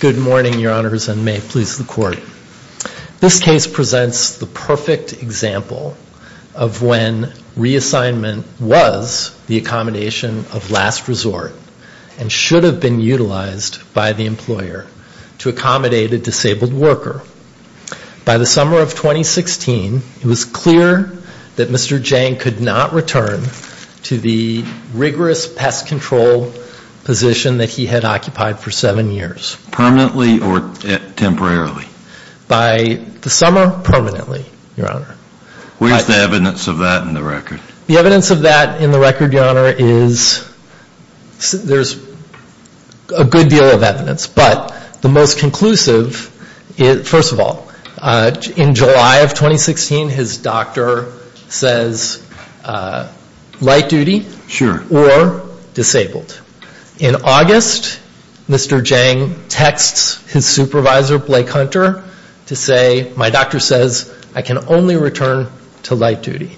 Good morning, Your Honors, and may it please the Court. This case presents the perfect example of when reassignment was the accommodation of last resort and should have been utilized by the employer to accommodate a disabled worker. By the summer of 2016, it was clear that Mr. Dieng could not return to the rigorous pest control position that he had occupied for seven years. Permanently or temporarily? By the summer, permanently, Your Honor. What is the evidence of that in the record? The evidence of that in the record, Your Honor, is, there's a good deal of evidence, but the most conclusive, first of all, in July of 2016, his doctor says light duty or disabled. In August, Mr. Dieng texts his supervisor, Blake Hunter, to say, my doctor says I can only return to light duty.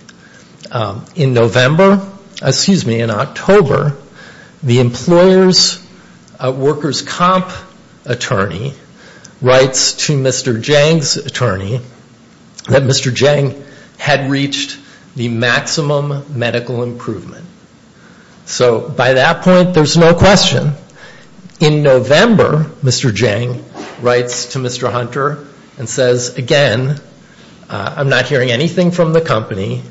In October, the employer's workers' comp attorney writes to Mr. Dieng's attorney that Mr. Dieng had reached the maximum medical improvement. So by that point, there's no question. In November, Mr. Dieng writes to Mr. Hunter and says, again, I'm not hearing anything from the company.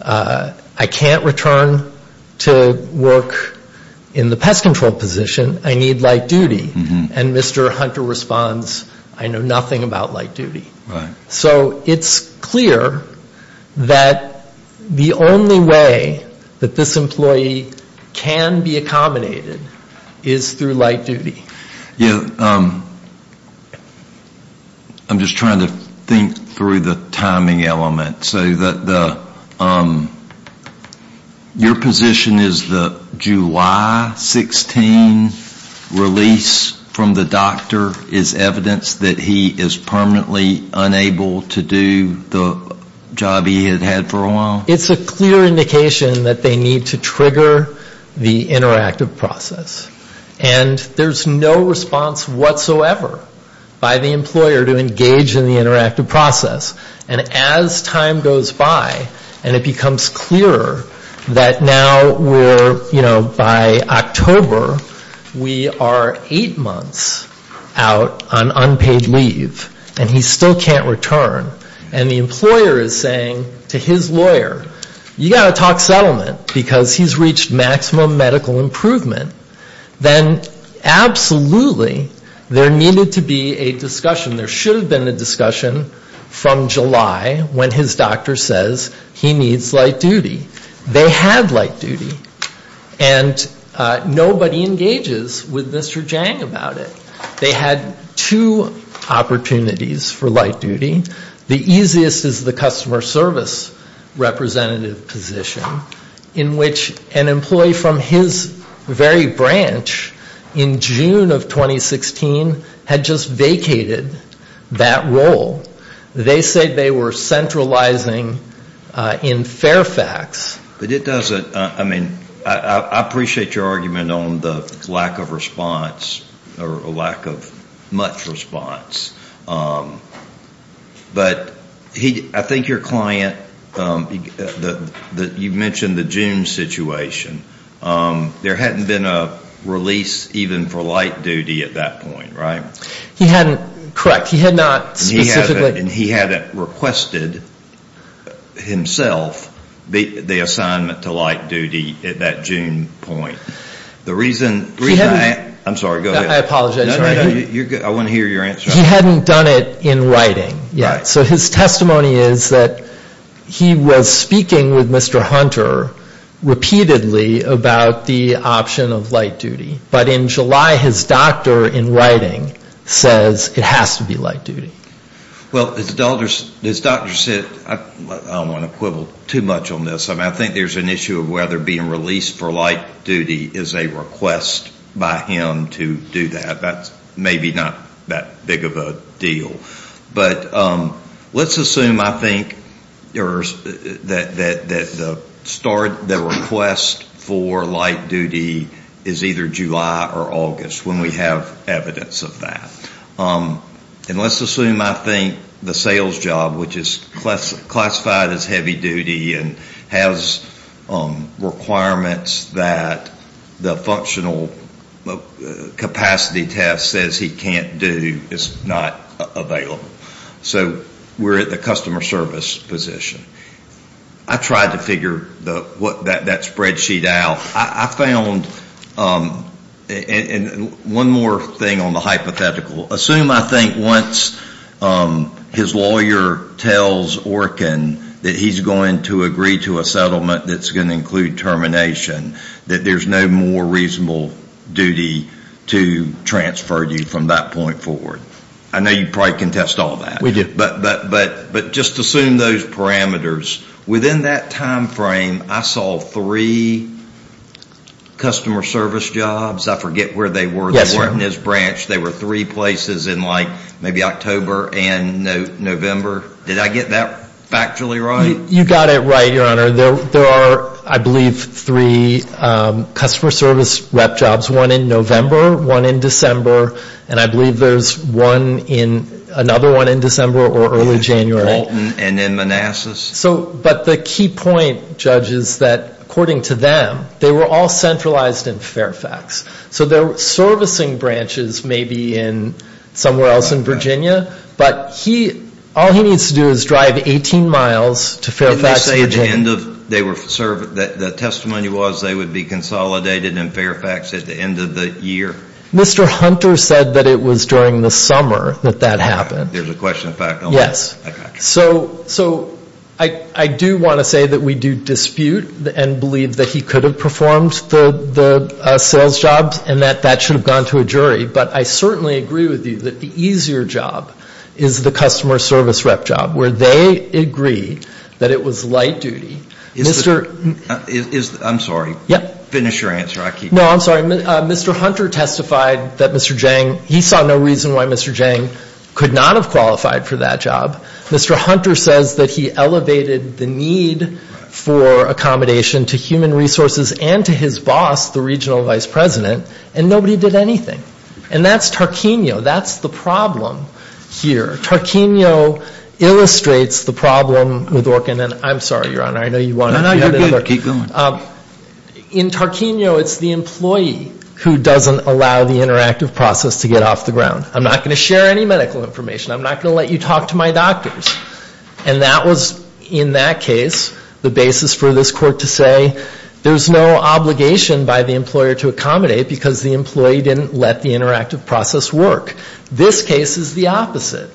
I can't return to work in the pest control position. I need light duty. And Mr. Hunter responds, I know nothing about light duty. So it's clear that the only way that this employee can be accommodated is through light duty. I'm just trying to think through the timing element. So your position is the July 16 release from the doctor is evidence that he is permanently unable to do the job he had had for a while? It's a clear indication that they need to trigger the interactive process. And there's no response whatsoever by the employer to engage in the interactive process. And as time goes by and it becomes clearer that now we're, you know, by October, we are eight months out on unpaid leave and he still can't return. And the employer is saying to his lawyer, you've got to talk settlement because he's reached maximum medical improvement. Then absolutely there needed to be a discussion. There should have been a discussion from July when his doctor says he needs light duty. They had light duty. And nobody engages with Mr. Jang about it. They had two opportunities for light duty. The easiest is the customer service representative position in which an employee from his very branch in June of 2016 had just vacated that role. They said they were centralizing in Fairfax. But it doesn't, I mean, I appreciate your argument on the lack of response or lack of much response. But I think your client, you mentioned the June situation. There hadn't been a release even for light duty at that point, right? He hadn't, correct, he had not specifically. And he hadn't requested himself the assignment to light duty at that June point. The reason, I'm sorry, go ahead. I apologize. I want to hear your answer. He hadn't done it in writing yet. So his testimony is that he was speaking with Mr. Hunter repeatedly about the option of light duty. But in July his doctor in writing says it has to be light duty. Well, his doctor said, I don't want to quibble too much on this. I think there's an issue of whether being released for light duty is a request by him to do that. That's maybe not that big of a deal. But let's assume, I think, that the start, the request for light duty is either July or August when we have evidence of that. And let's assume, I think, the sales job, which is classified as heavy duty and has requirements that the functional capacity test, says he can't do, is not available. So we're at the customer service position. I tried to figure that spreadsheet out. I found, and one more thing on the hypothetical. Assume, I think, once his lawyer tells Orkin that he's going to agree to a settlement that's going to include termination, that there's no more reasonable duty to transfer you from that point forward. I know you probably contest all that. We do. But just assume those parameters. Within that time frame, I saw three customer service jobs. I forget where they were. Yes, sir. They weren't in his branch. They were three places in like maybe October and November. Did I get that factually right? You got it right, Your Honor. There are, I believe, three customer service rep jobs. One in November, one in December, and I believe there's another one in December or early January. And then Manassas. But the key point, Judge, is that according to them, they were all centralized in Fairfax. So their servicing branches may be somewhere else in Virginia. But all he needs to do is drive 18 miles to Fairfax. Didn't you say that the testimony was they would be consolidated in Fairfax at the end of the year? Mr. Hunter said that it was during the summer that that happened. There's a question of fact on that. Yes. So I do want to say that we do dispute and believe that he could have performed the sales jobs and that that should have gone to a jury. But I certainly agree with you that the easier job is the customer service rep job, where they agree that it was light duty. I'm sorry. Finish your answer. No, I'm sorry. Mr. Hunter testified that Mr. Jang, he saw no reason why Mr. Jang could not have qualified for that job. Mr. Hunter says that he elevated the need for accommodation to human resources and to his boss, the regional vice president, and nobody did anything. And that's Tarquino. That's the problem here. Tarquino illustrates the problem with Orkin. And I'm sorry, Your Honor, I know you want to add another. Keep going. In Tarquino, it's the employee who doesn't allow the interactive process to get off the ground. I'm not going to share any medical information. I'm not going to let you talk to my doctors. And that was, in that case, the basis for this court to say there's no obligation by the employer to accommodate because the employee didn't let the interactive process work. This case is the opposite.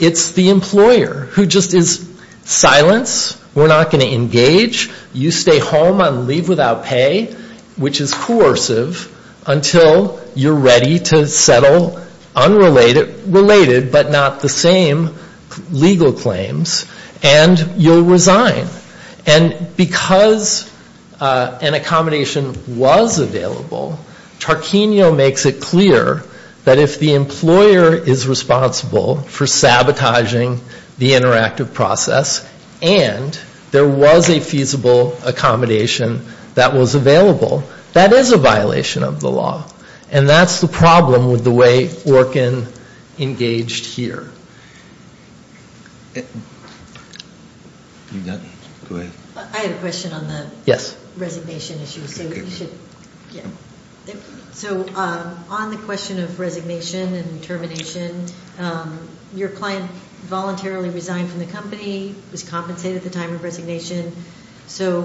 It's the employer who just is, silence, we're not going to engage. You stay home on leave without pay, which is coercive, until you're ready to settle unrelated but not the same legal claims, and you'll resign. And because an accommodation was available, Tarquino makes it clear that if the employer is responsible for sabotaging the interactive process and there was a feasible accommodation that was available, that is a violation of the law. And that's the problem with the way Orkin engaged here. I have a question on the resignation issue. So on the question of resignation and termination, your client voluntarily resigned from the company, was compensated at the time of resignation. So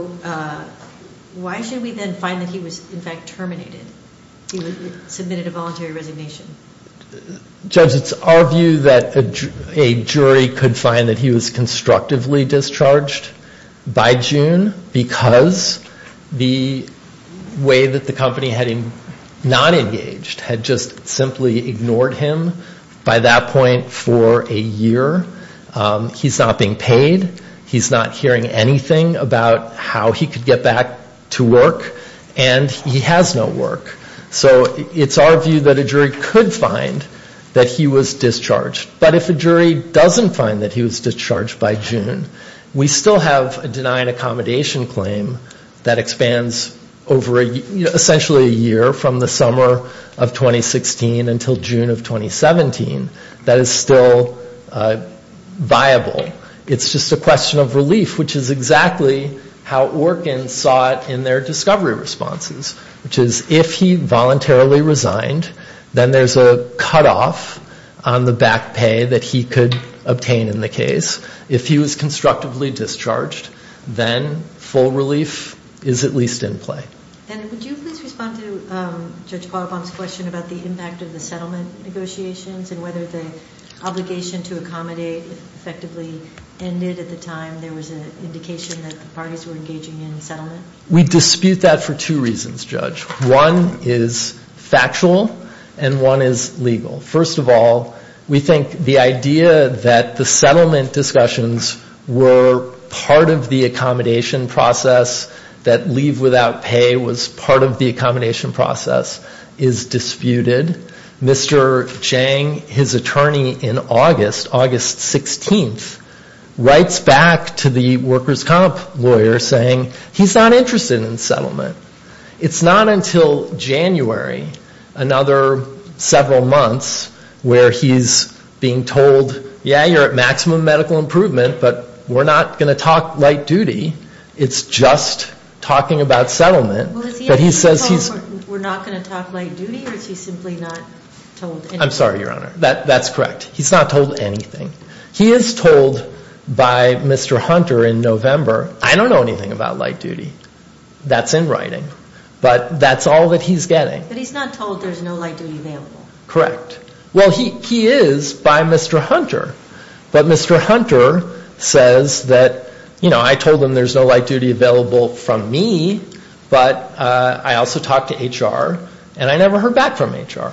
why should we then find that he was, in fact, terminated? He submitted a voluntary resignation. Judge, it's our view that a jury could find that he was constructively discharged by June because the way that the company had him not engaged had just simply ignored him by that point for a year. He's not being paid. He's not hearing anything about how he could get back to work, and he has no work. So it's our view that a jury could find that he was discharged. But if a jury doesn't find that he was discharged by June, we still have a denied accommodation claim that expands over essentially a year from the summer of 2016 until June of 2017 that is still viable. It's just a question of relief, which is exactly how Orkin saw it in their discovery responses, which is if he voluntarily resigned, then there's a cutoff on the back pay that he could obtain in the case. If he was constructively discharged, then full relief is at least in play. And would you please respond to Judge Palabong's question about the impact of the settlement negotiations and whether the obligation to accommodate effectively ended at the time there was an indication that the parties were engaging in settlement? We dispute that for two reasons, Judge. One is factual, and one is legal. First of all, we think the idea that the settlement discussions were part of the accommodation process, that leave without pay was part of the accommodation process, is disputed. Mr. Chang, his attorney in August, August 16th, writes back to the workers' comp lawyer saying he's not interested in settlement. It's not until January, another several months, where he's being told, yeah, you're at maximum medical improvement, but we're not going to talk light duty. It's just talking about settlement. But he says he's not going to talk light duty? I'm sorry, Your Honor. That's correct. He's not told anything. He is told by Mr. Hunter in November, I don't know anything about light duty. That's in writing. But that's all that he's getting. But he's not told there's no light duty available? Correct. Well, he is by Mr. Hunter. But Mr. Hunter says that, you know, I told him there's no light duty available from me, but I also talked to HR, and I never heard back from HR.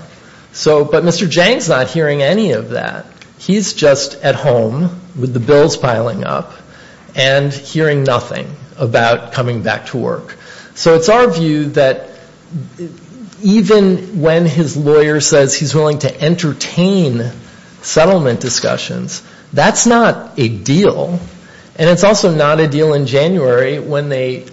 So, but Mr. Chang's not hearing any of that. He's just at home with the bills piling up and hearing nothing about coming back to work. So it's our view that even when his lawyer says he's willing to entertain settlement discussions, that's not a deal, and it's also not a deal in January when they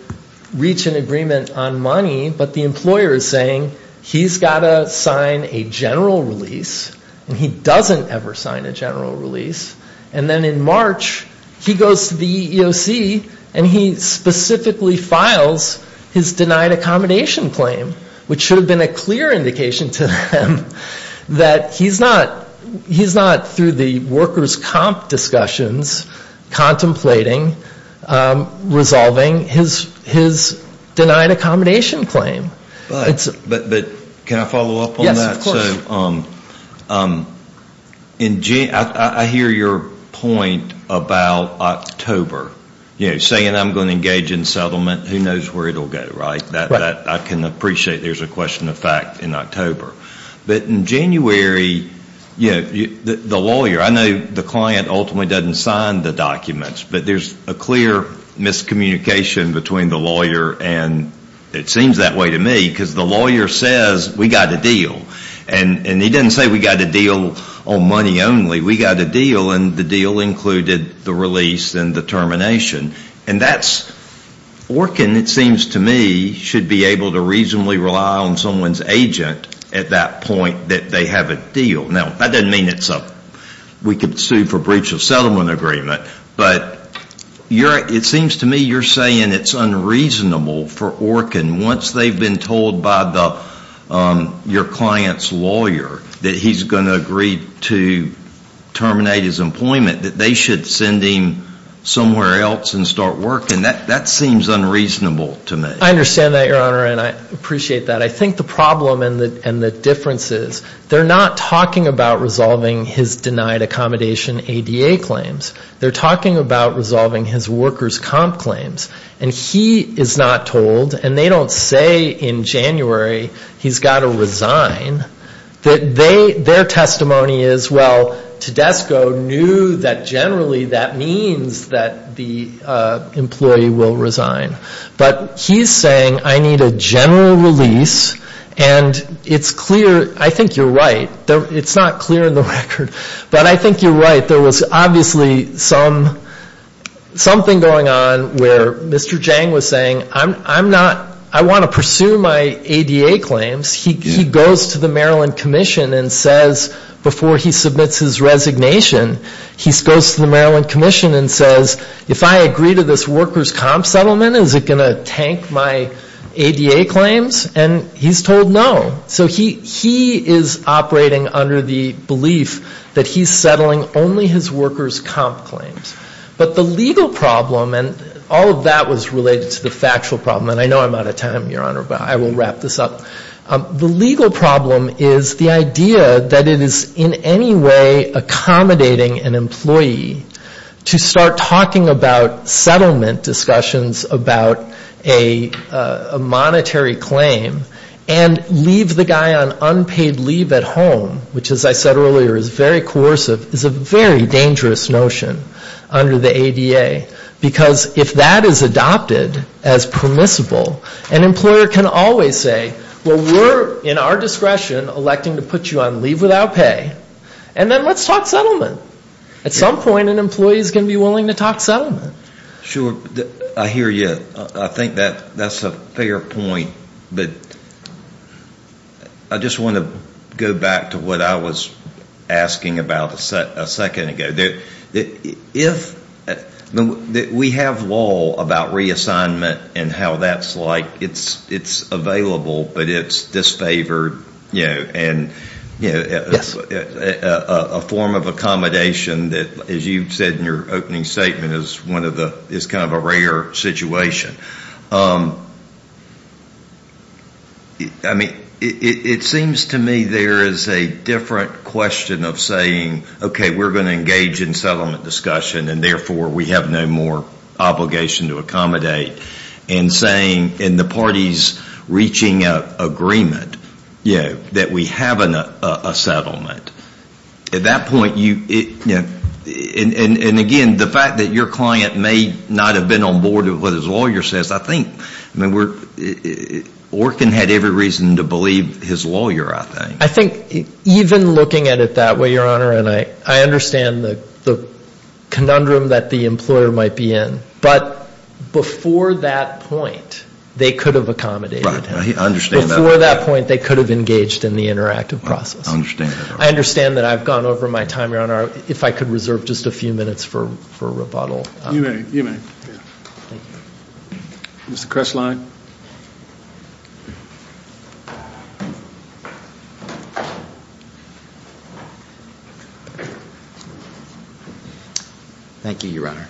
reach an agreement on money, but the employer is saying he's got to sign a general release, and he doesn't ever sign a general release. And then in March, he goes to the EEOC, and he specifically files his denied accommodation claim, which should have been a clear indication to them that he's not through the workers' comp discussions, contemplating resolving his denied accommodation claim. But can I follow up on that? Yes, of course. I hear your point about October, you know, saying I'm going to engage in settlement. Who knows where it will go, right? I can appreciate there's a question of fact in October. But in January, you know, the lawyer, I know the client ultimately doesn't sign the documents, but there's a clear miscommunication between the lawyer, and it seems that way to me, because the lawyer says we've got a deal. And he doesn't say we've got a deal on money only. We've got a deal, and the deal included the release and the termination. And that's, ORCN, it seems to me, should be able to reasonably rely on someone's agent at that point that they have a deal. Now, that doesn't mean we can sue for breach of settlement agreement, but it seems to me you're saying it's unreasonable for ORCN, once they've been told by your client's lawyer that he's going to agree to terminate his employment, that they should send him somewhere else and start working. That seems unreasonable to me. I understand that, Your Honor, and I appreciate that. I think the problem and the difference is they're not talking about resolving his denied accommodation ADA claims. They're talking about resolving his workers' comp claims. And he is not told, and they don't say in January he's got to resign. Their testimony is, well, Tedesco knew that generally that means that the employee will resign. But he's saying I need a general release, and it's clear, I think you're right. It's not clear in the record, but I think you're right. There was obviously something going on where Mr. Jang was saying I want to pursue my ADA claims. He goes to the Maryland Commission and says before he submits his resignation, he goes to the Maryland Commission and says if I agree to this workers' comp settlement, is it going to tank my ADA claims? And he's told no. So he is operating under the belief that he's settling only his workers' comp claims. But the legal problem, and all of that was related to the factual problem, and I know I'm out of time, Your Honor, but I will wrap this up. The legal problem is the idea that it is in any way accommodating an employee to start talking about settlement discussions about a monetary claim and leave the guy on unpaid leave at home, which as I said earlier is very coercive, is a very dangerous notion under the ADA. Because if that is adopted as permissible, an employer can always say, well, we're in our discretion electing to put you on leave without pay, and then let's talk settlement. At some point an employee is going to be willing to talk settlement. Sure. I hear you. I think that's a fair point. But I just want to go back to what I was asking about a second ago. If we have law about reassignment and how that's like, it's available, but it's disfavored, and a form of accommodation that, as you said in your opening statement, is kind of a rare situation. It seems to me there is a different question of saying, okay, we're going to engage in settlement discussion, and therefore we have no more obligation to accommodate, and saying in the parties reaching agreement that we have a settlement. At that point, and again, the fact that your client may not have been on board with what his lawyer says, I think Orkin had every reason to believe his lawyer, I think. I think even looking at it that way, Your Honor, and I understand the conundrum that the employer might be in, but before that point, they could have accommodated him. Right. I understand that. Before that point, they could have engaged in the interactive process. I understand that. I understand that I've gone over my time, Your Honor. If I could reserve just a few minutes for rebuttal. You may. You may. Mr. Kresslein. Thank you, Your Honor.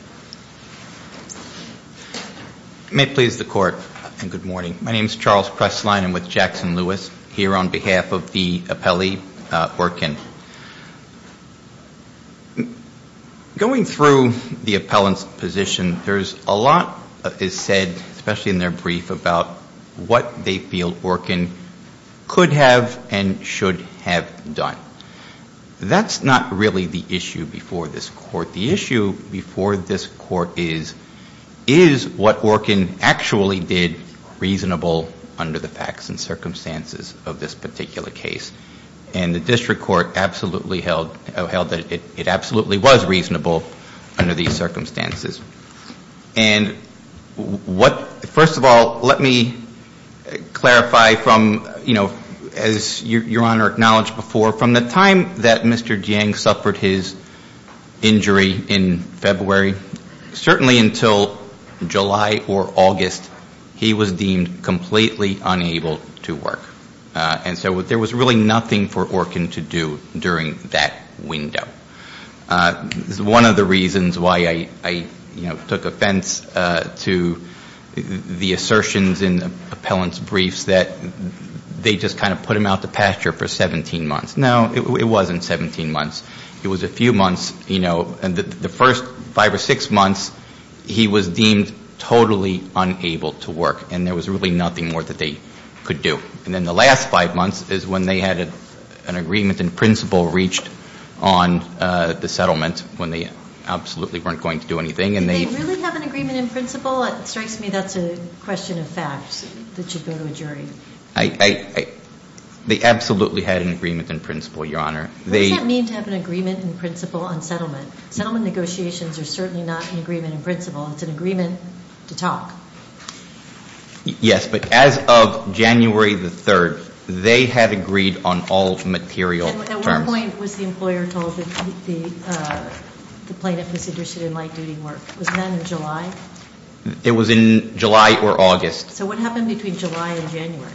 May it please the Court, and good morning. My name is Charles Kresslein. I'm with Jackson-Lewis here on behalf of the appellee, Orkin. Going through the appellant's position, there's a lot that is said, especially in their brief, about what they feel Orkin could have and should have done. That's not really the issue before this Court. The issue before this Court is, is what Orkin actually did reasonable under the facts and circumstances of this particular case? And the district court absolutely held that it absolutely was reasonable under these circumstances. And what, first of all, let me clarify from, you know, as Your Honor acknowledged before, from the time that Mr. Jiang suffered his injury in February, certainly until July or August, he was deemed completely unable to work. And so there was really nothing for Orkin to do during that window. This is one of the reasons why I, you know, took offense to the assertions in the appellant's briefs, that they just kind of put him out to pasture for 17 months. No, it wasn't 17 months. It was a few months, you know, and the first five or six months, he was deemed totally unable to work. And there was really nothing more that they could do. And then the last five months is when they had an agreement in principle reached on the settlement, when they absolutely weren't going to do anything. Did they really have an agreement in principle? It strikes me that's a question of facts that should go to a jury. They absolutely had an agreement in principle, Your Honor. What does that mean to have an agreement in principle on settlement? Settlement negotiations are certainly not an agreement in principle. It's an agreement to talk. Yes, but as of January the 3rd, they had agreed on all material terms. At what point was the employer told that the plaintiff was interested in light-duty work? Was that in July? It was in July or August. So what happened between July and January?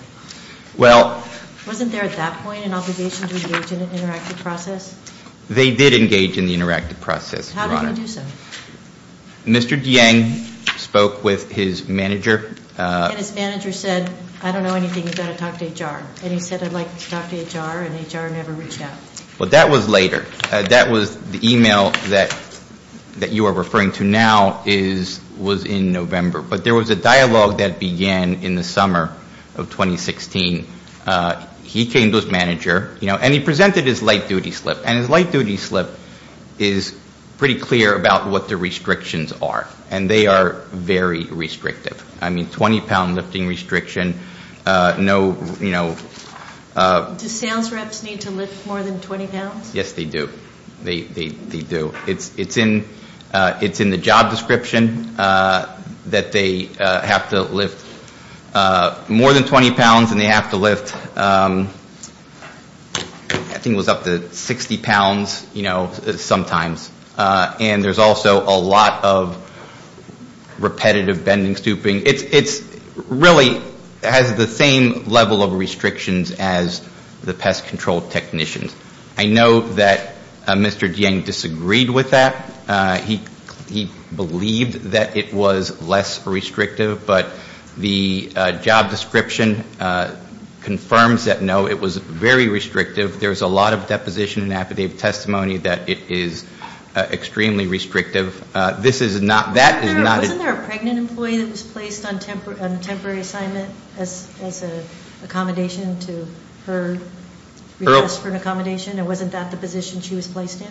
Well. Wasn't there at that point an obligation to engage in an interactive process? They did engage in the interactive process, Your Honor. How did they do so? Mr. Dieng spoke with his manager. And his manager said, I don't know anything. You've got to talk to HR. And he said, I'd like to talk to HR, and HR never reached out. Well, that was later. That was the email that you are referring to now was in November. But there was a dialogue that began in the summer of 2016. He came to his manager, and he presented his light-duty slip. And his light-duty slip is pretty clear about what the restrictions are. And they are very restrictive. I mean, 20-pound lifting restriction, no, you know. Do sales reps need to lift more than 20 pounds? Yes, they do. They do. It's in the job description that they have to lift more than 20 pounds, and they have to lift, I think it was up to 60 pounds, you know, sometimes. And there's also a lot of repetitive bending, stooping. It really has the same level of restrictions as the pest control technicians. I know that Mr. Dieng disagreed with that. He believed that it was less restrictive. But the job description confirms that, no, it was very restrictive. There was a lot of deposition and affidavit testimony that it is extremely restrictive. This is not, that is not. Wasn't there a pregnant employee that was placed on temporary assignment as an accommodation to her request for an accommodation? And wasn't that the position she was placed in?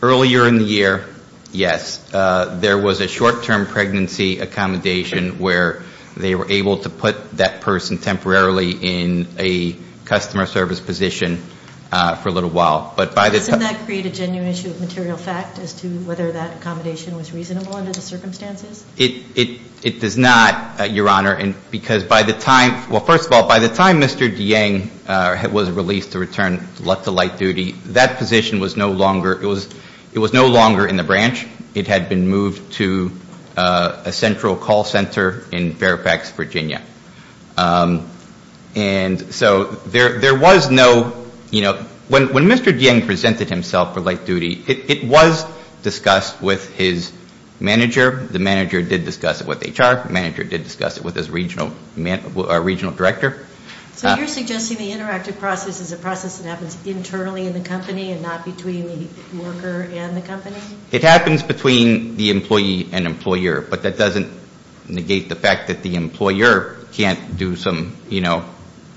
Earlier in the year, yes. There was a short-term pregnancy accommodation where they were able to put that person temporarily in a customer service position for a little while. Doesn't that create a genuine issue of material fact as to whether that accommodation was reasonable under the circumstances? It does not, Your Honor, because by the time, well, first of all, by the time Mr. Dieng was released to return to light duty, that position was no longer, it was no longer in the branch. It had been moved to a central call center in Fairfax, Virginia. And so there was no, you know, when Mr. Dieng presented himself for light duty, it was discussed with his manager. The manager did discuss it with HR. The manager did discuss it with his regional director. So you're suggesting the interactive process is a process that happens internally in the company and not between the worker and the company? It happens between the employee and employer, but that doesn't negate the fact that the employer can't do some, you know,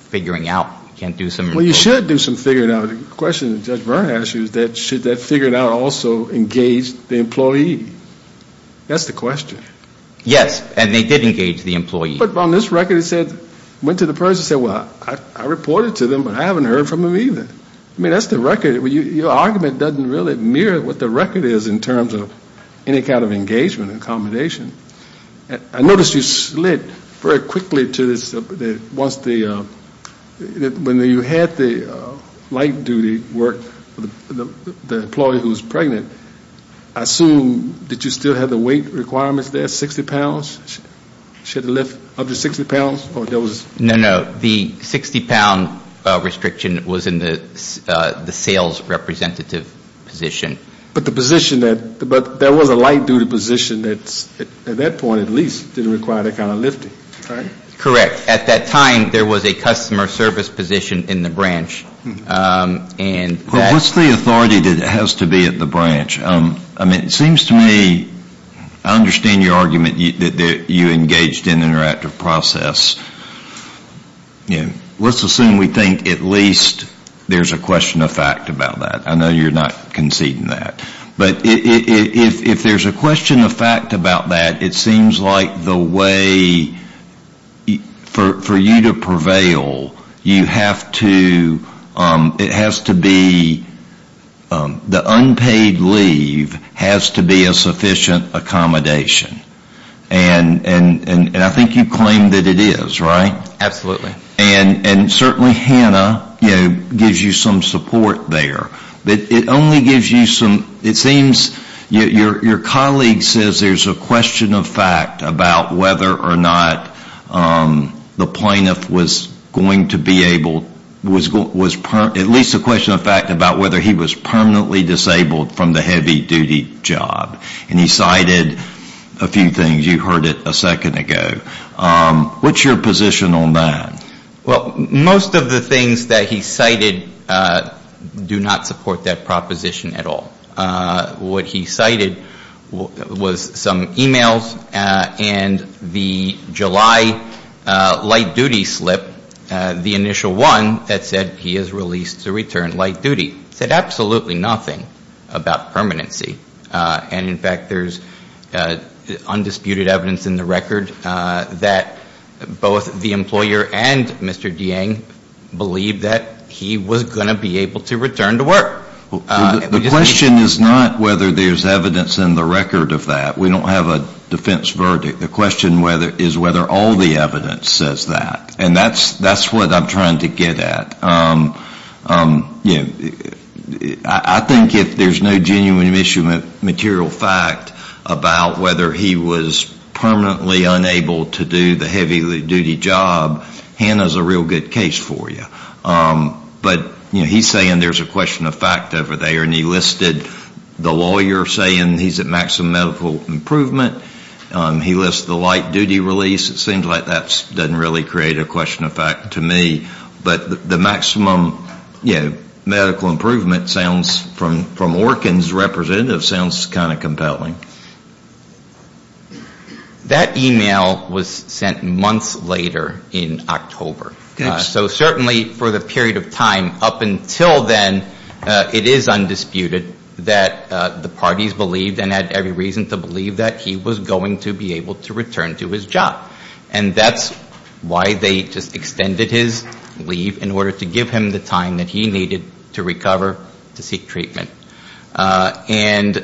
figuring out, can't do some. Well, you should do some figuring out. The question that Judge Vern asked you is should that figuring out also engage the employee? That's the question. Yes, and they did engage the employee. But on this record it said, went to the person and said, well, I reported to them, but I haven't heard from them either. I mean, that's the record. Your argument doesn't really mirror what the record is in terms of any kind of engagement and accommodation. I noticed you slid very quickly to this, once the, when you had the light duty work, the employee who was pregnant, I assume did you still have the weight requirements there, 60 pounds? Should it lift up to 60 pounds? No, no. The 60 pound restriction was in the sales representative position. But the position that, but there was a light duty position that at that point at least didn't require that kind of lifting, right? Correct. At that time there was a customer service position in the branch. And that What's the authority that has to be at the branch? I mean, it seems to me, I understand your argument that you engaged in interactive process. Let's assume we think at least there's a question of fact about that. I know you're not conceding that. But if there's a question of fact about that, it seems like the way for you to prevail, you have to, it has to be, the unpaid leave has to be a sufficient accommodation. And I think you claim that it is, right? Absolutely. And certainly Hannah, you know, gives you some support there. But it only gives you some, it seems, your colleague says there's a question of fact about whether or not the plaintiff was going to be able, at least a question of fact about whether he was permanently disabled from the heavy duty job. And he cited a few things. You heard it a second ago. What's your position on that? Well, most of the things that he cited do not support that proposition at all. What he cited was some e-mails and the July light duty slip, the initial one that said he is released to return light duty, said absolutely nothing about permanency. And, in fact, there's undisputed evidence in the record that both the employer and Mr. Deang believed that he was going to be able to return to work. The question is not whether there's evidence in the record of that. We don't have a defense verdict. The question is whether all the evidence says that. And that's what I'm trying to get at. I think if there's no genuine issue of material fact about whether he was permanently unable to do the heavy duty job, Hannah's a real good case for you. But he's saying there's a question of fact over there, and he listed the lawyer saying he's at maximum medical improvement. He lists the light duty release. It seems like that doesn't really create a question of fact to me. But the maximum medical improvement from Orkin's representative sounds kind of compelling. That e-mail was sent months later in October. So certainly for the period of time up until then, it is undisputed that the parties believed and had every reason to believe that he was going to be able to return to his job. And that's why they just extended his leave in order to give him the time that he needed to recover to seek treatment. And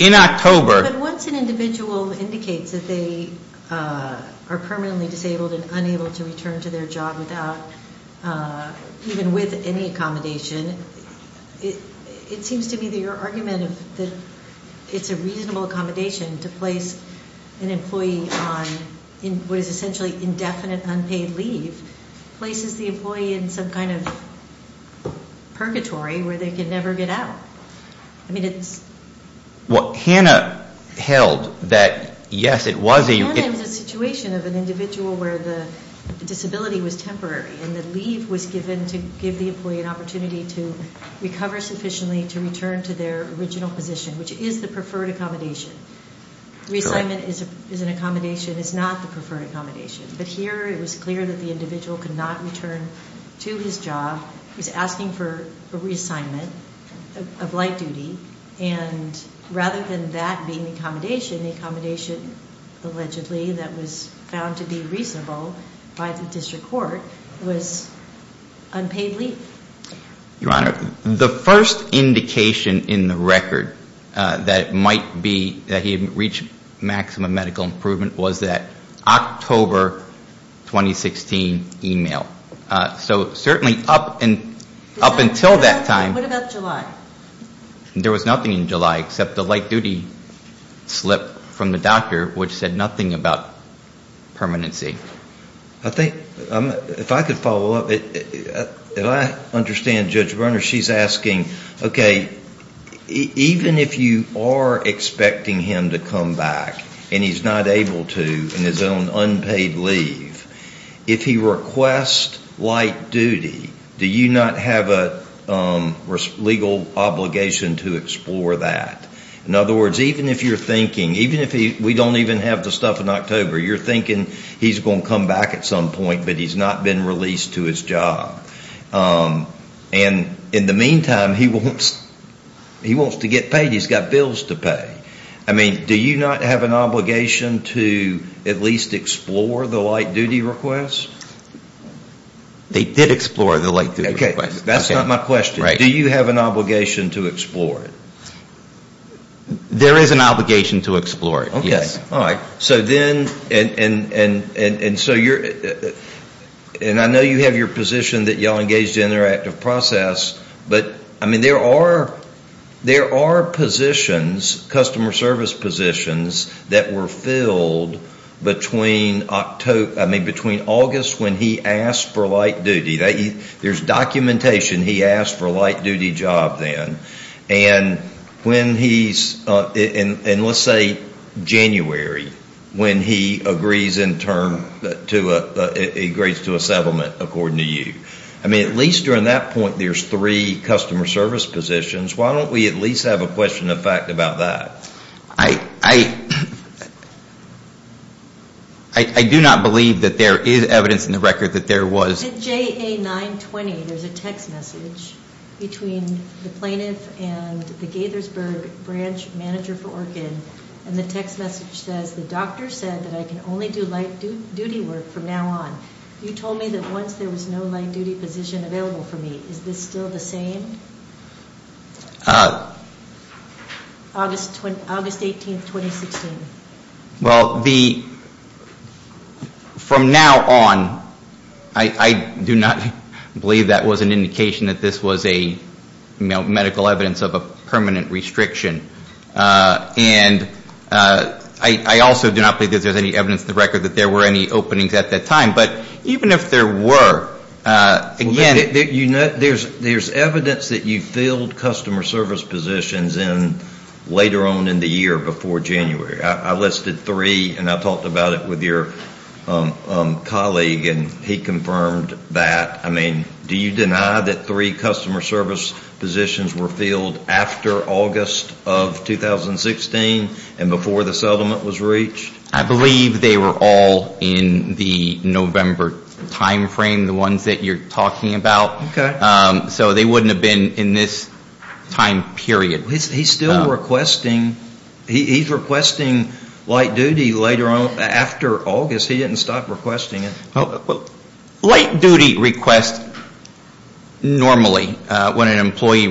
in October ‑‑ But once an individual indicates that they are permanently disabled and unable to return to their job without, even with any accommodation, it seems to me that your argument that it's a reasonable accommodation to place an employee on what is essentially indefinite unpaid leave, places the employee in some kind of purgatory where they can never get out. I mean, it's ‑‑ Well, Hannah held that, yes, it was a ‑‑ Hannah was a situation of an individual where the disability was temporary, and the leave was given to give the employee an opportunity to recover sufficiently to return to their original position, which is the preferred accommodation. Reassignment is an accommodation. It's not the preferred accommodation. But here it was clear that the individual could not return to his job. He was asking for a reassignment of light duty. And rather than that being accommodation, the accommodation allegedly that was found to be reasonable by the district court was unpaid leave. Your Honor, the first indication in the record that it might be that he had reached maximum medical improvement was that October 2016 e‑mail. So certainly up until that time ‑‑ What about July? There was nothing in July except the light duty slip from the doctor, which said nothing about permanency. I think, if I could follow up, and I understand Judge Brunner, she's asking, okay, even if you are expecting him to come back and he's not able to in his own unpaid leave, if he requests light duty, do you not have a legal obligation to explore that? In other words, even if you're thinking, even if we don't even have the stuff in October, you're thinking he's going to come back at some point, but he's not been released to his job. And in the meantime, he wants to get paid. He's got bills to pay. I mean, do you not have an obligation to at least explore the light duty request? They did explore the light duty request. That's not my question. Do you have an obligation to explore it? There is an obligation to explore it, yes. All right. So then, and so you're, and I know you have your position that you all engage the interactive process, but, I mean, there are positions, customer service positions, that were filled between August when he asked for light duty. There's documentation he asked for a light duty job then. And when he's, and let's say January, when he agrees in term, he agrees to a settlement according to you. I mean, at least during that point, there's three customer service positions. Why don't we at least have a question of fact about that? I do not believe that there is evidence in the record that there was. In JA 920, there's a text message between the plaintiff and the Gaithersburg branch manager for Orchid, and the text message says, the doctor said that I can only do light duty work from now on. You told me that once there was no light duty position available for me. Is this still the same? August 18th, 2016. Well, from now on, I do not believe that was an indication that this was a medical evidence of a permanent restriction. And I also do not believe that there's any evidence in the record that there were any openings at that time. But even if there were, again. There's evidence that you filled customer service positions in later on in the year before January. I listed three, and I talked about it with your colleague, and he confirmed that. I mean, do you deny that three customer service positions were filled after August of 2016 and before the settlement was reached? I believe they were all in the November time frame, the ones that you're talking about. Okay. So they wouldn't have been in this time period. He's still requesting. He's requesting light duty later on after August. He didn't stop requesting it. Well, light duty requests normally, when an employee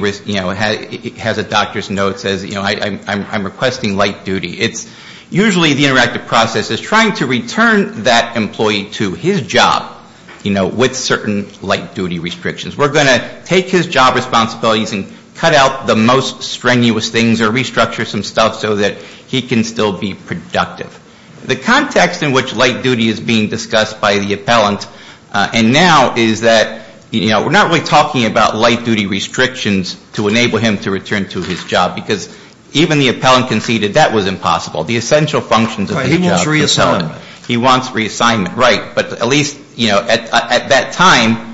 has a doctor's note that says, I'm requesting light duty. It's usually the interactive process is trying to return that employee to his job, you know, with certain light duty restrictions. We're going to take his job responsibilities and cut out the most strenuous things or restructure some stuff so that he can still be productive. The context in which light duty is being discussed by the appellant and now is that, you know, we're not really talking about light duty restrictions to enable him to return to his job because even the appellant conceded that was impossible. The essential functions of his job. He wants reassignment. Right. But at least, you know, at that time,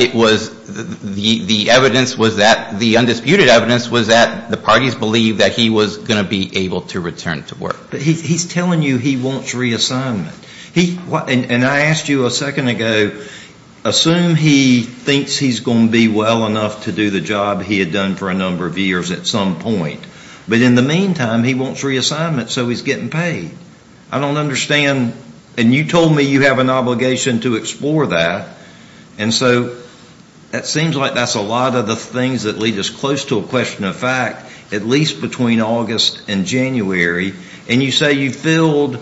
it was the evidence was that, the undisputed evidence was that the parties believed that he was going to be able to return to work. But he's telling you he wants reassignment. And I asked you a second ago, assume he thinks he's going to be well enough to do the job he had done for a number of years at some point. But in the meantime, he wants reassignment, so he's getting paid. I don't understand. And you told me you have an obligation to explore that. And so it seems like that's a lot of the things that lead us close to a question of fact, at least between August and January. And you say you filled,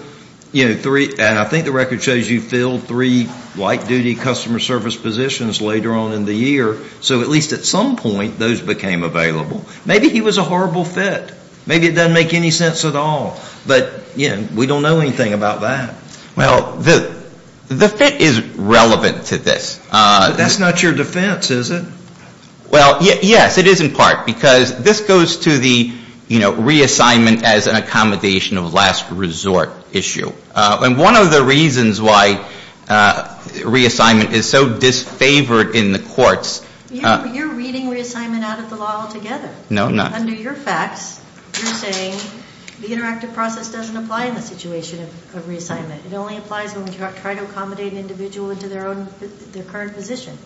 you know, three, and I think the record shows you filled three light duty customer service positions later on in the year. So at least at some point, those became available. Maybe he was a horrible fit. Maybe it doesn't make any sense at all. But, you know, we don't know anything about that. Well, the fit is relevant to this. That's not your defense, is it? Well, yes, it is in part. Because this goes to the, you know, reassignment as an accommodation of last resort issue. And one of the reasons why reassignment is so disfavored in the courts. You're reading reassignment out of the law altogether. No, I'm not. Under your facts, you're saying the interactive process doesn't apply in the situation of reassignment. It only applies when we try to accommodate an individual into their own, their current position.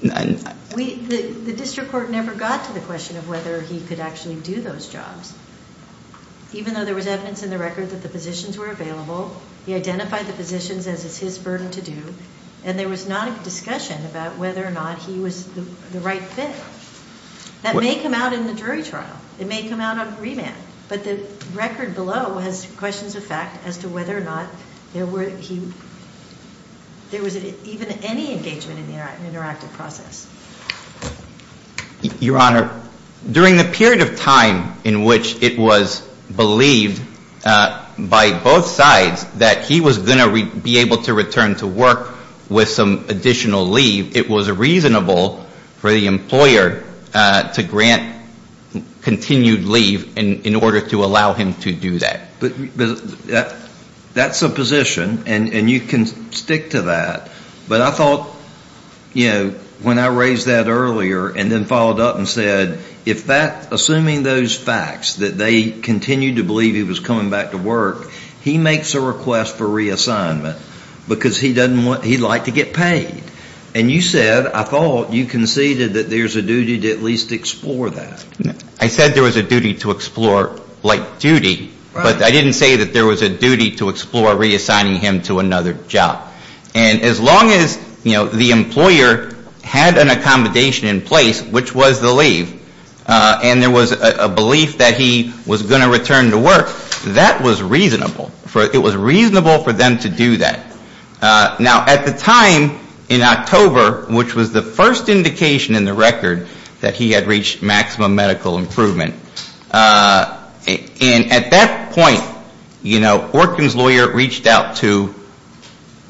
The district court never got to the question of whether he could actually do those jobs. Even though there was evidence in the record that the positions were available, he identified the positions as his burden to do, and there was not a discussion about whether or not he was the right fit. That may come out in the jury trial. It may come out on remand. But the record below has questions of fact as to whether or not there were, there was even any engagement in the interactive process. Your Honor, during the period of time in which it was believed by both sides that he was going to be able to return to work with some additional leave, it was reasonable for the employer to grant continued leave in order to allow him to do that. That's a position, and you can stick to that. But I thought, you know, when I raised that earlier and then followed up and said, if that, assuming those facts, that they continued to believe he was coming back to work, he makes a request for reassignment because he doesn't want, he'd like to get paid. And you said, I thought you conceded that there's a duty to at least explore that. I said there was a duty to explore, like duty, but I didn't say that there was a duty to explore reassigning him to another job. And as long as, you know, the employer had an accommodation in place, which was the leave, and there was a belief that he was going to return to work, that was reasonable. It was reasonable for them to do that. Now, at the time in October, which was the first indication in the record that he had reached maximum medical improvement, and at that point, you know, Orkin's lawyer reached out to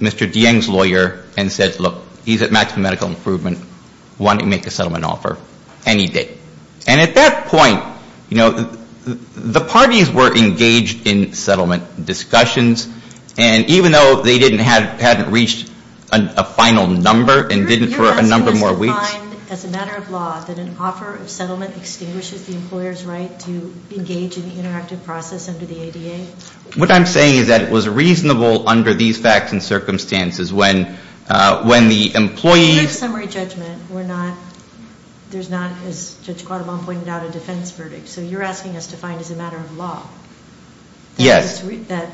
Mr. Dieng's lawyer and said, look, he's at maximum medical improvement. Why don't you make a settlement offer? And he did. And at that point, you know, the parties were engaged in settlement discussions, and even though they hadn't reached a final number and didn't for a number more weeks. Do you find, as a matter of law, that an offer of settlement extinguishes the employer's right to engage in the interactive process under the ADA? What I'm saying is that it was reasonable under these facts and circumstances when the employee... In a summary judgment, we're not, there's not, as Judge Quattlebaum pointed out, a defense verdict. So you're asking us to find as a matter of law... Yes. That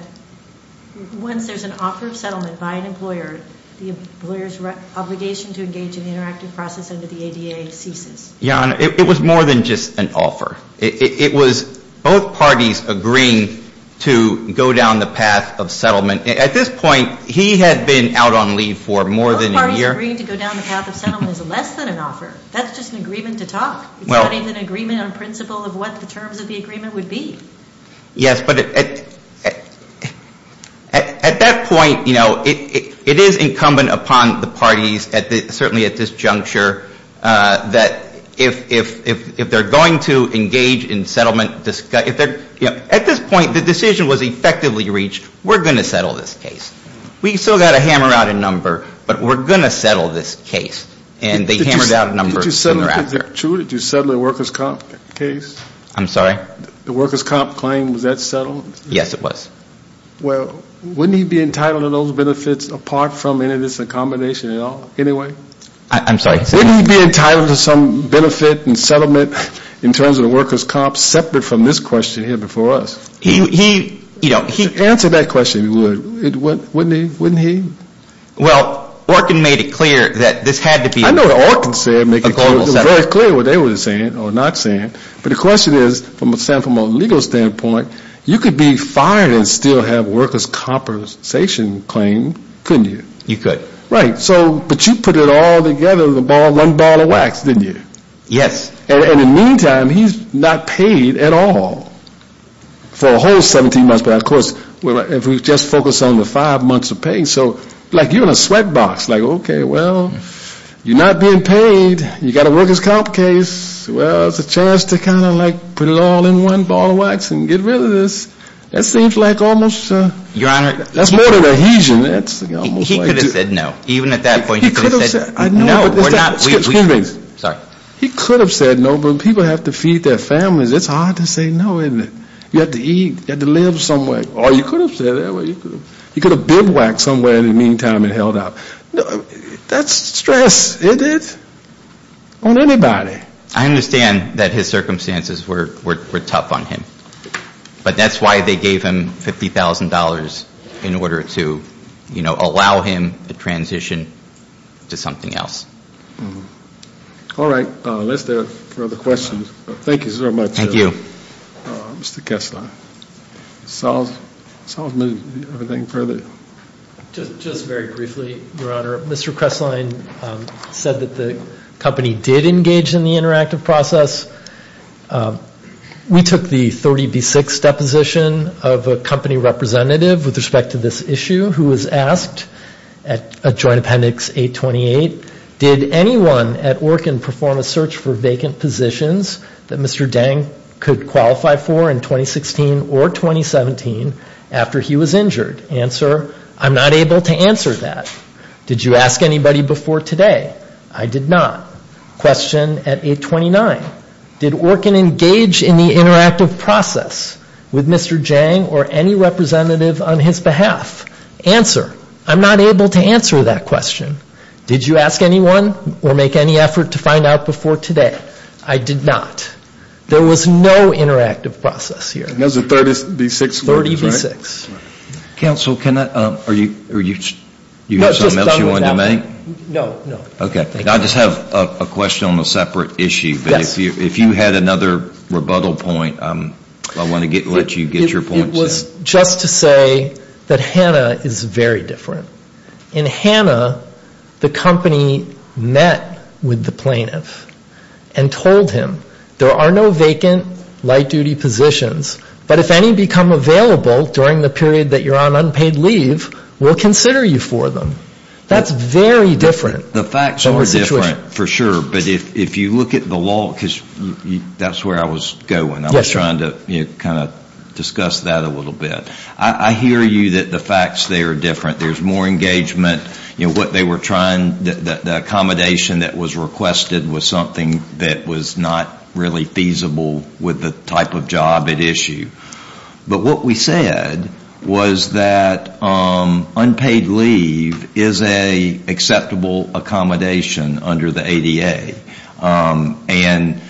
once there's an offer of settlement by an employer, the employer's obligation to engage in the interactive process under the ADA ceases. Jan, it was more than just an offer. It was both parties agreeing to go down the path of settlement. At this point, he had been out on leave for more than a year. Both parties agreeing to go down the path of settlement is less than an offer. That's just an agreement to talk. It's not even an agreement on principle of what the terms of the agreement would be. Yes, but at that point, you know, it is incumbent upon the parties, certainly at this juncture, that if they're going to engage in settlement... At this point, the decision was effectively reached, we're going to settle this case. We've still got to hammer out a number, but we're going to settle this case. And they hammered out a number. Chu, did you settle the workers' comp case? I'm sorry? The workers' comp claim, was that settled? Yes, it was. Well, wouldn't he be entitled to those benefits apart from any of this accommodation at all, anyway? I'm sorry. Wouldn't he be entitled to some benefit and settlement in terms of the workers' comp separate from this question here before us? He, you know, he... Answer that question, if you would. Wouldn't he? Well, Orkin made it clear that this had to be... I know what Orkin said, making it very clear what they were saying or not saying. But the question is, from a legal standpoint, you could be fired and still have workers' compensation claim, couldn't you? You could. Right. But you put it all together with one ball of wax, didn't you? Yes. And in the meantime, he's not paid at all for a whole 17 months. But of course, if we just focus on the five months of pay, so like you're in a sweat box. Like, okay, well, you're not being paid, you've got a workers' comp case. Well, it's a chance to kind of like put it all in one ball of wax and get rid of this. That seems like almost a... Your Honor... That's more than ahesion. That's almost like... He could have said no. Even at that point... He could have said... No, we're not... Excuse me. Sorry. He could have said no, but people have to feed their families. It's hard to say no, isn't it? You have to eat. You have to live somewhere. Or you could have said that way. You could have bibwacked somewhere in the meantime and held out. That's stress, isn't it? On anybody. I understand that his circumstances were tough on him. But that's why they gave him $50,000 in order to, you know, allow him to transition to something else. All right. Unless there are further questions. Thank you very much. Thank you. Mr. Kessler. Solve... Solve everything further? Thank you. Just very briefly, Your Honor. Mr. Kresslein said that the company did engage in the interactive process. We took the 30B6 deposition of a company representative with respect to this issue who was asked at Joint Appendix 828, did anyone at Orkin perform a search for vacant positions that Mr. Deng could qualify for in 2016 or 2017 after he was injured? Answer, I'm not able to answer that. Did you ask anybody before today? I did not. Question at 829. Did Orkin engage in the interactive process with Mr. Deng or any representative on his behalf? Answer, I'm not able to answer that question. Did you ask anyone or make any effort to find out before today? I did not. There was no interactive process here. And those are 30B6... 30B6. Counsel, can I... are you... No, just done with that one. Do you have something else you wanted to make? No, no. Okay. Thank you. I just have a question on a separate issue. Yes. But if you had another rebuttal point, I want to let you get your point. It was just to say that Hannah is very different. In Hannah, the company met with the plaintiff and told him, there are no vacant light-duty positions, but if any become available during the period that you're on unpaid leave, we'll consider you for them. That's very different. The facts are different, for sure. But if you look at the law, because that's where I was going. Yes, sir. I was trying to kind of discuss that a little bit. I hear you that the facts there are different. There's more engagement. What they were trying, the accommodation that was requested, was something that was not really feasible with the type of job at issue. But what we said was that unpaid leave is an acceptable accommodation under the ADA. And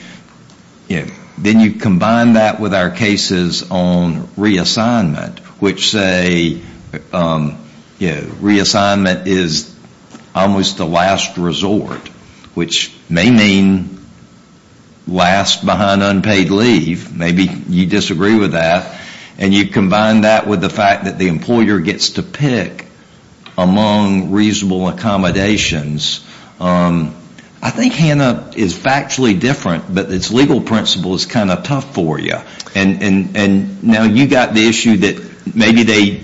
then you combine that with our cases on reassignment, which say reassignment is almost a last resort, which may mean last behind unpaid leave. Maybe you disagree with that. And you combine that with the fact that the employer gets to pick among reasonable accommodations. I think HANA is factually different, but its legal principle is kind of tough for you. And now you've got the issue that maybe they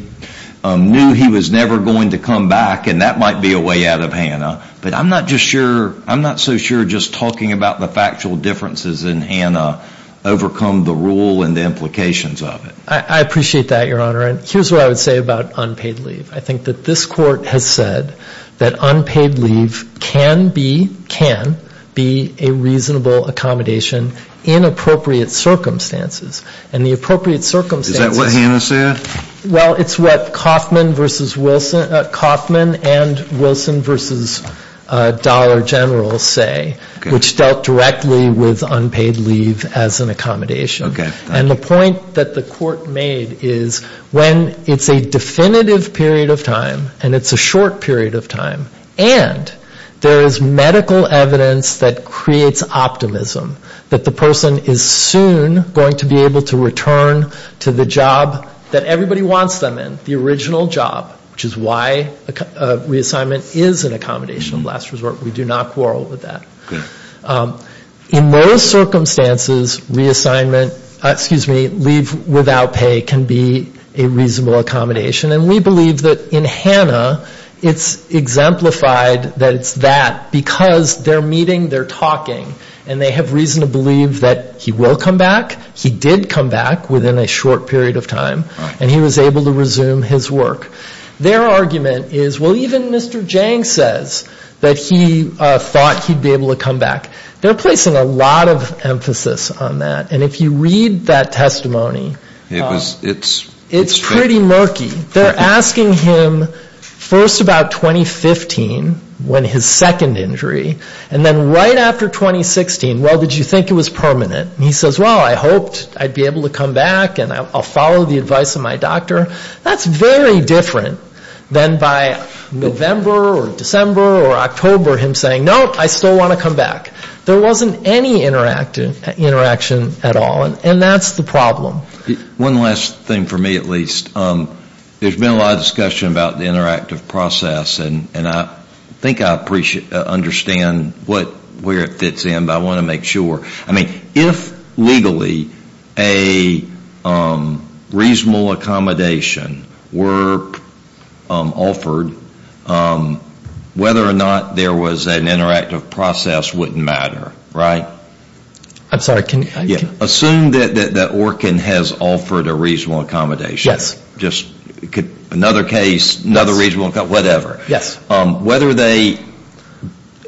knew he was never going to come back, and that might be a way out of HANA. But I'm not so sure just talking about the factual differences in HANA overcome the rule and the implications of it. I appreciate that, Your Honor. And here's what I would say about unpaid leave. I think that this Court has said that unpaid leave can be, can be, a reasonable accommodation in appropriate circumstances. And the appropriate circumstances. Is that what HANA said? Well, it's what Kauffman and Wilson v. Dollar General say, which dealt directly with unpaid leave as an accommodation. Okay. And the point that the Court made is when it's a definitive period of time and it's a short period of time, and there is medical evidence that creates optimism, that the person is soon going to be able to return to the job that everybody wants them in, the original job, which is why reassignment is an accommodation of last resort. We do not quarrel with that. In those circumstances, reassignment, excuse me, leave without pay can be a reasonable accommodation. And we believe that in HANA it's exemplified that it's that because they're meeting, they're talking, and they have reason to believe that he will come back. He did come back within a short period of time. And he was able to resume his work. Their argument is, well, even Mr. Jang says that he thought he'd be able to come back. They're placing a lot of emphasis on that. And if you read that testimony, it's pretty murky. They're asking him first about 2015, when his second injury, and then right after 2016, well, did you think it was permanent? And he says, well, I hoped I'd be able to come back and I'll follow the advice of my doctor. That's very different than by November or December or October him saying, no, I still want to come back. There wasn't any interaction at all. And that's the problem. One last thing for me, at least. There's been a lot of discussion about the interactive process, and I think I understand where it fits in, but I want to make sure. I mean, if legally a reasonable accommodation were offered, whether or not there was an interactive process wouldn't matter, right? I'm sorry. Assume that Orkin has offered a reasonable accommodation. Yes. Another case, another reasonable accommodation, whatever. Yes. Whether they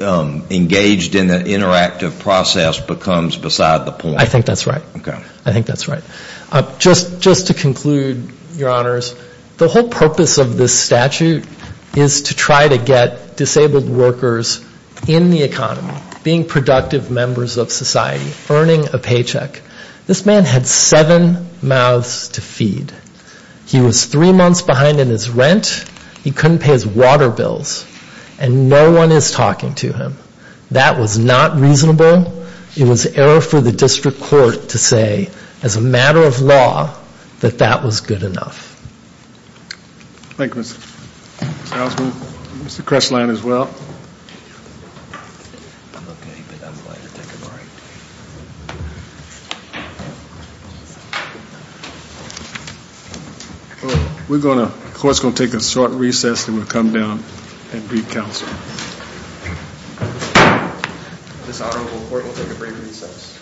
engaged in the interactive process becomes beside the point. I think that's right. Okay. I think that's right. Just to conclude, Your Honors, the whole purpose of this statute is to try to get disabled workers in the economy, being productive members of society, earning a paycheck. This man had seven mouths to feed. He was three months behind in his rent. He couldn't pay his water bills, and no one is talking to him. That was not reasonable. It was error for the district court to say, as a matter of law, that that was good enough. Thank you, Mr. Salzman. Mr. Kresslein as well. I'm okay, but I'm going to take a break. The court is going to take a short recess and we'll come down and brief counsel. This honorable court will take a brief recess.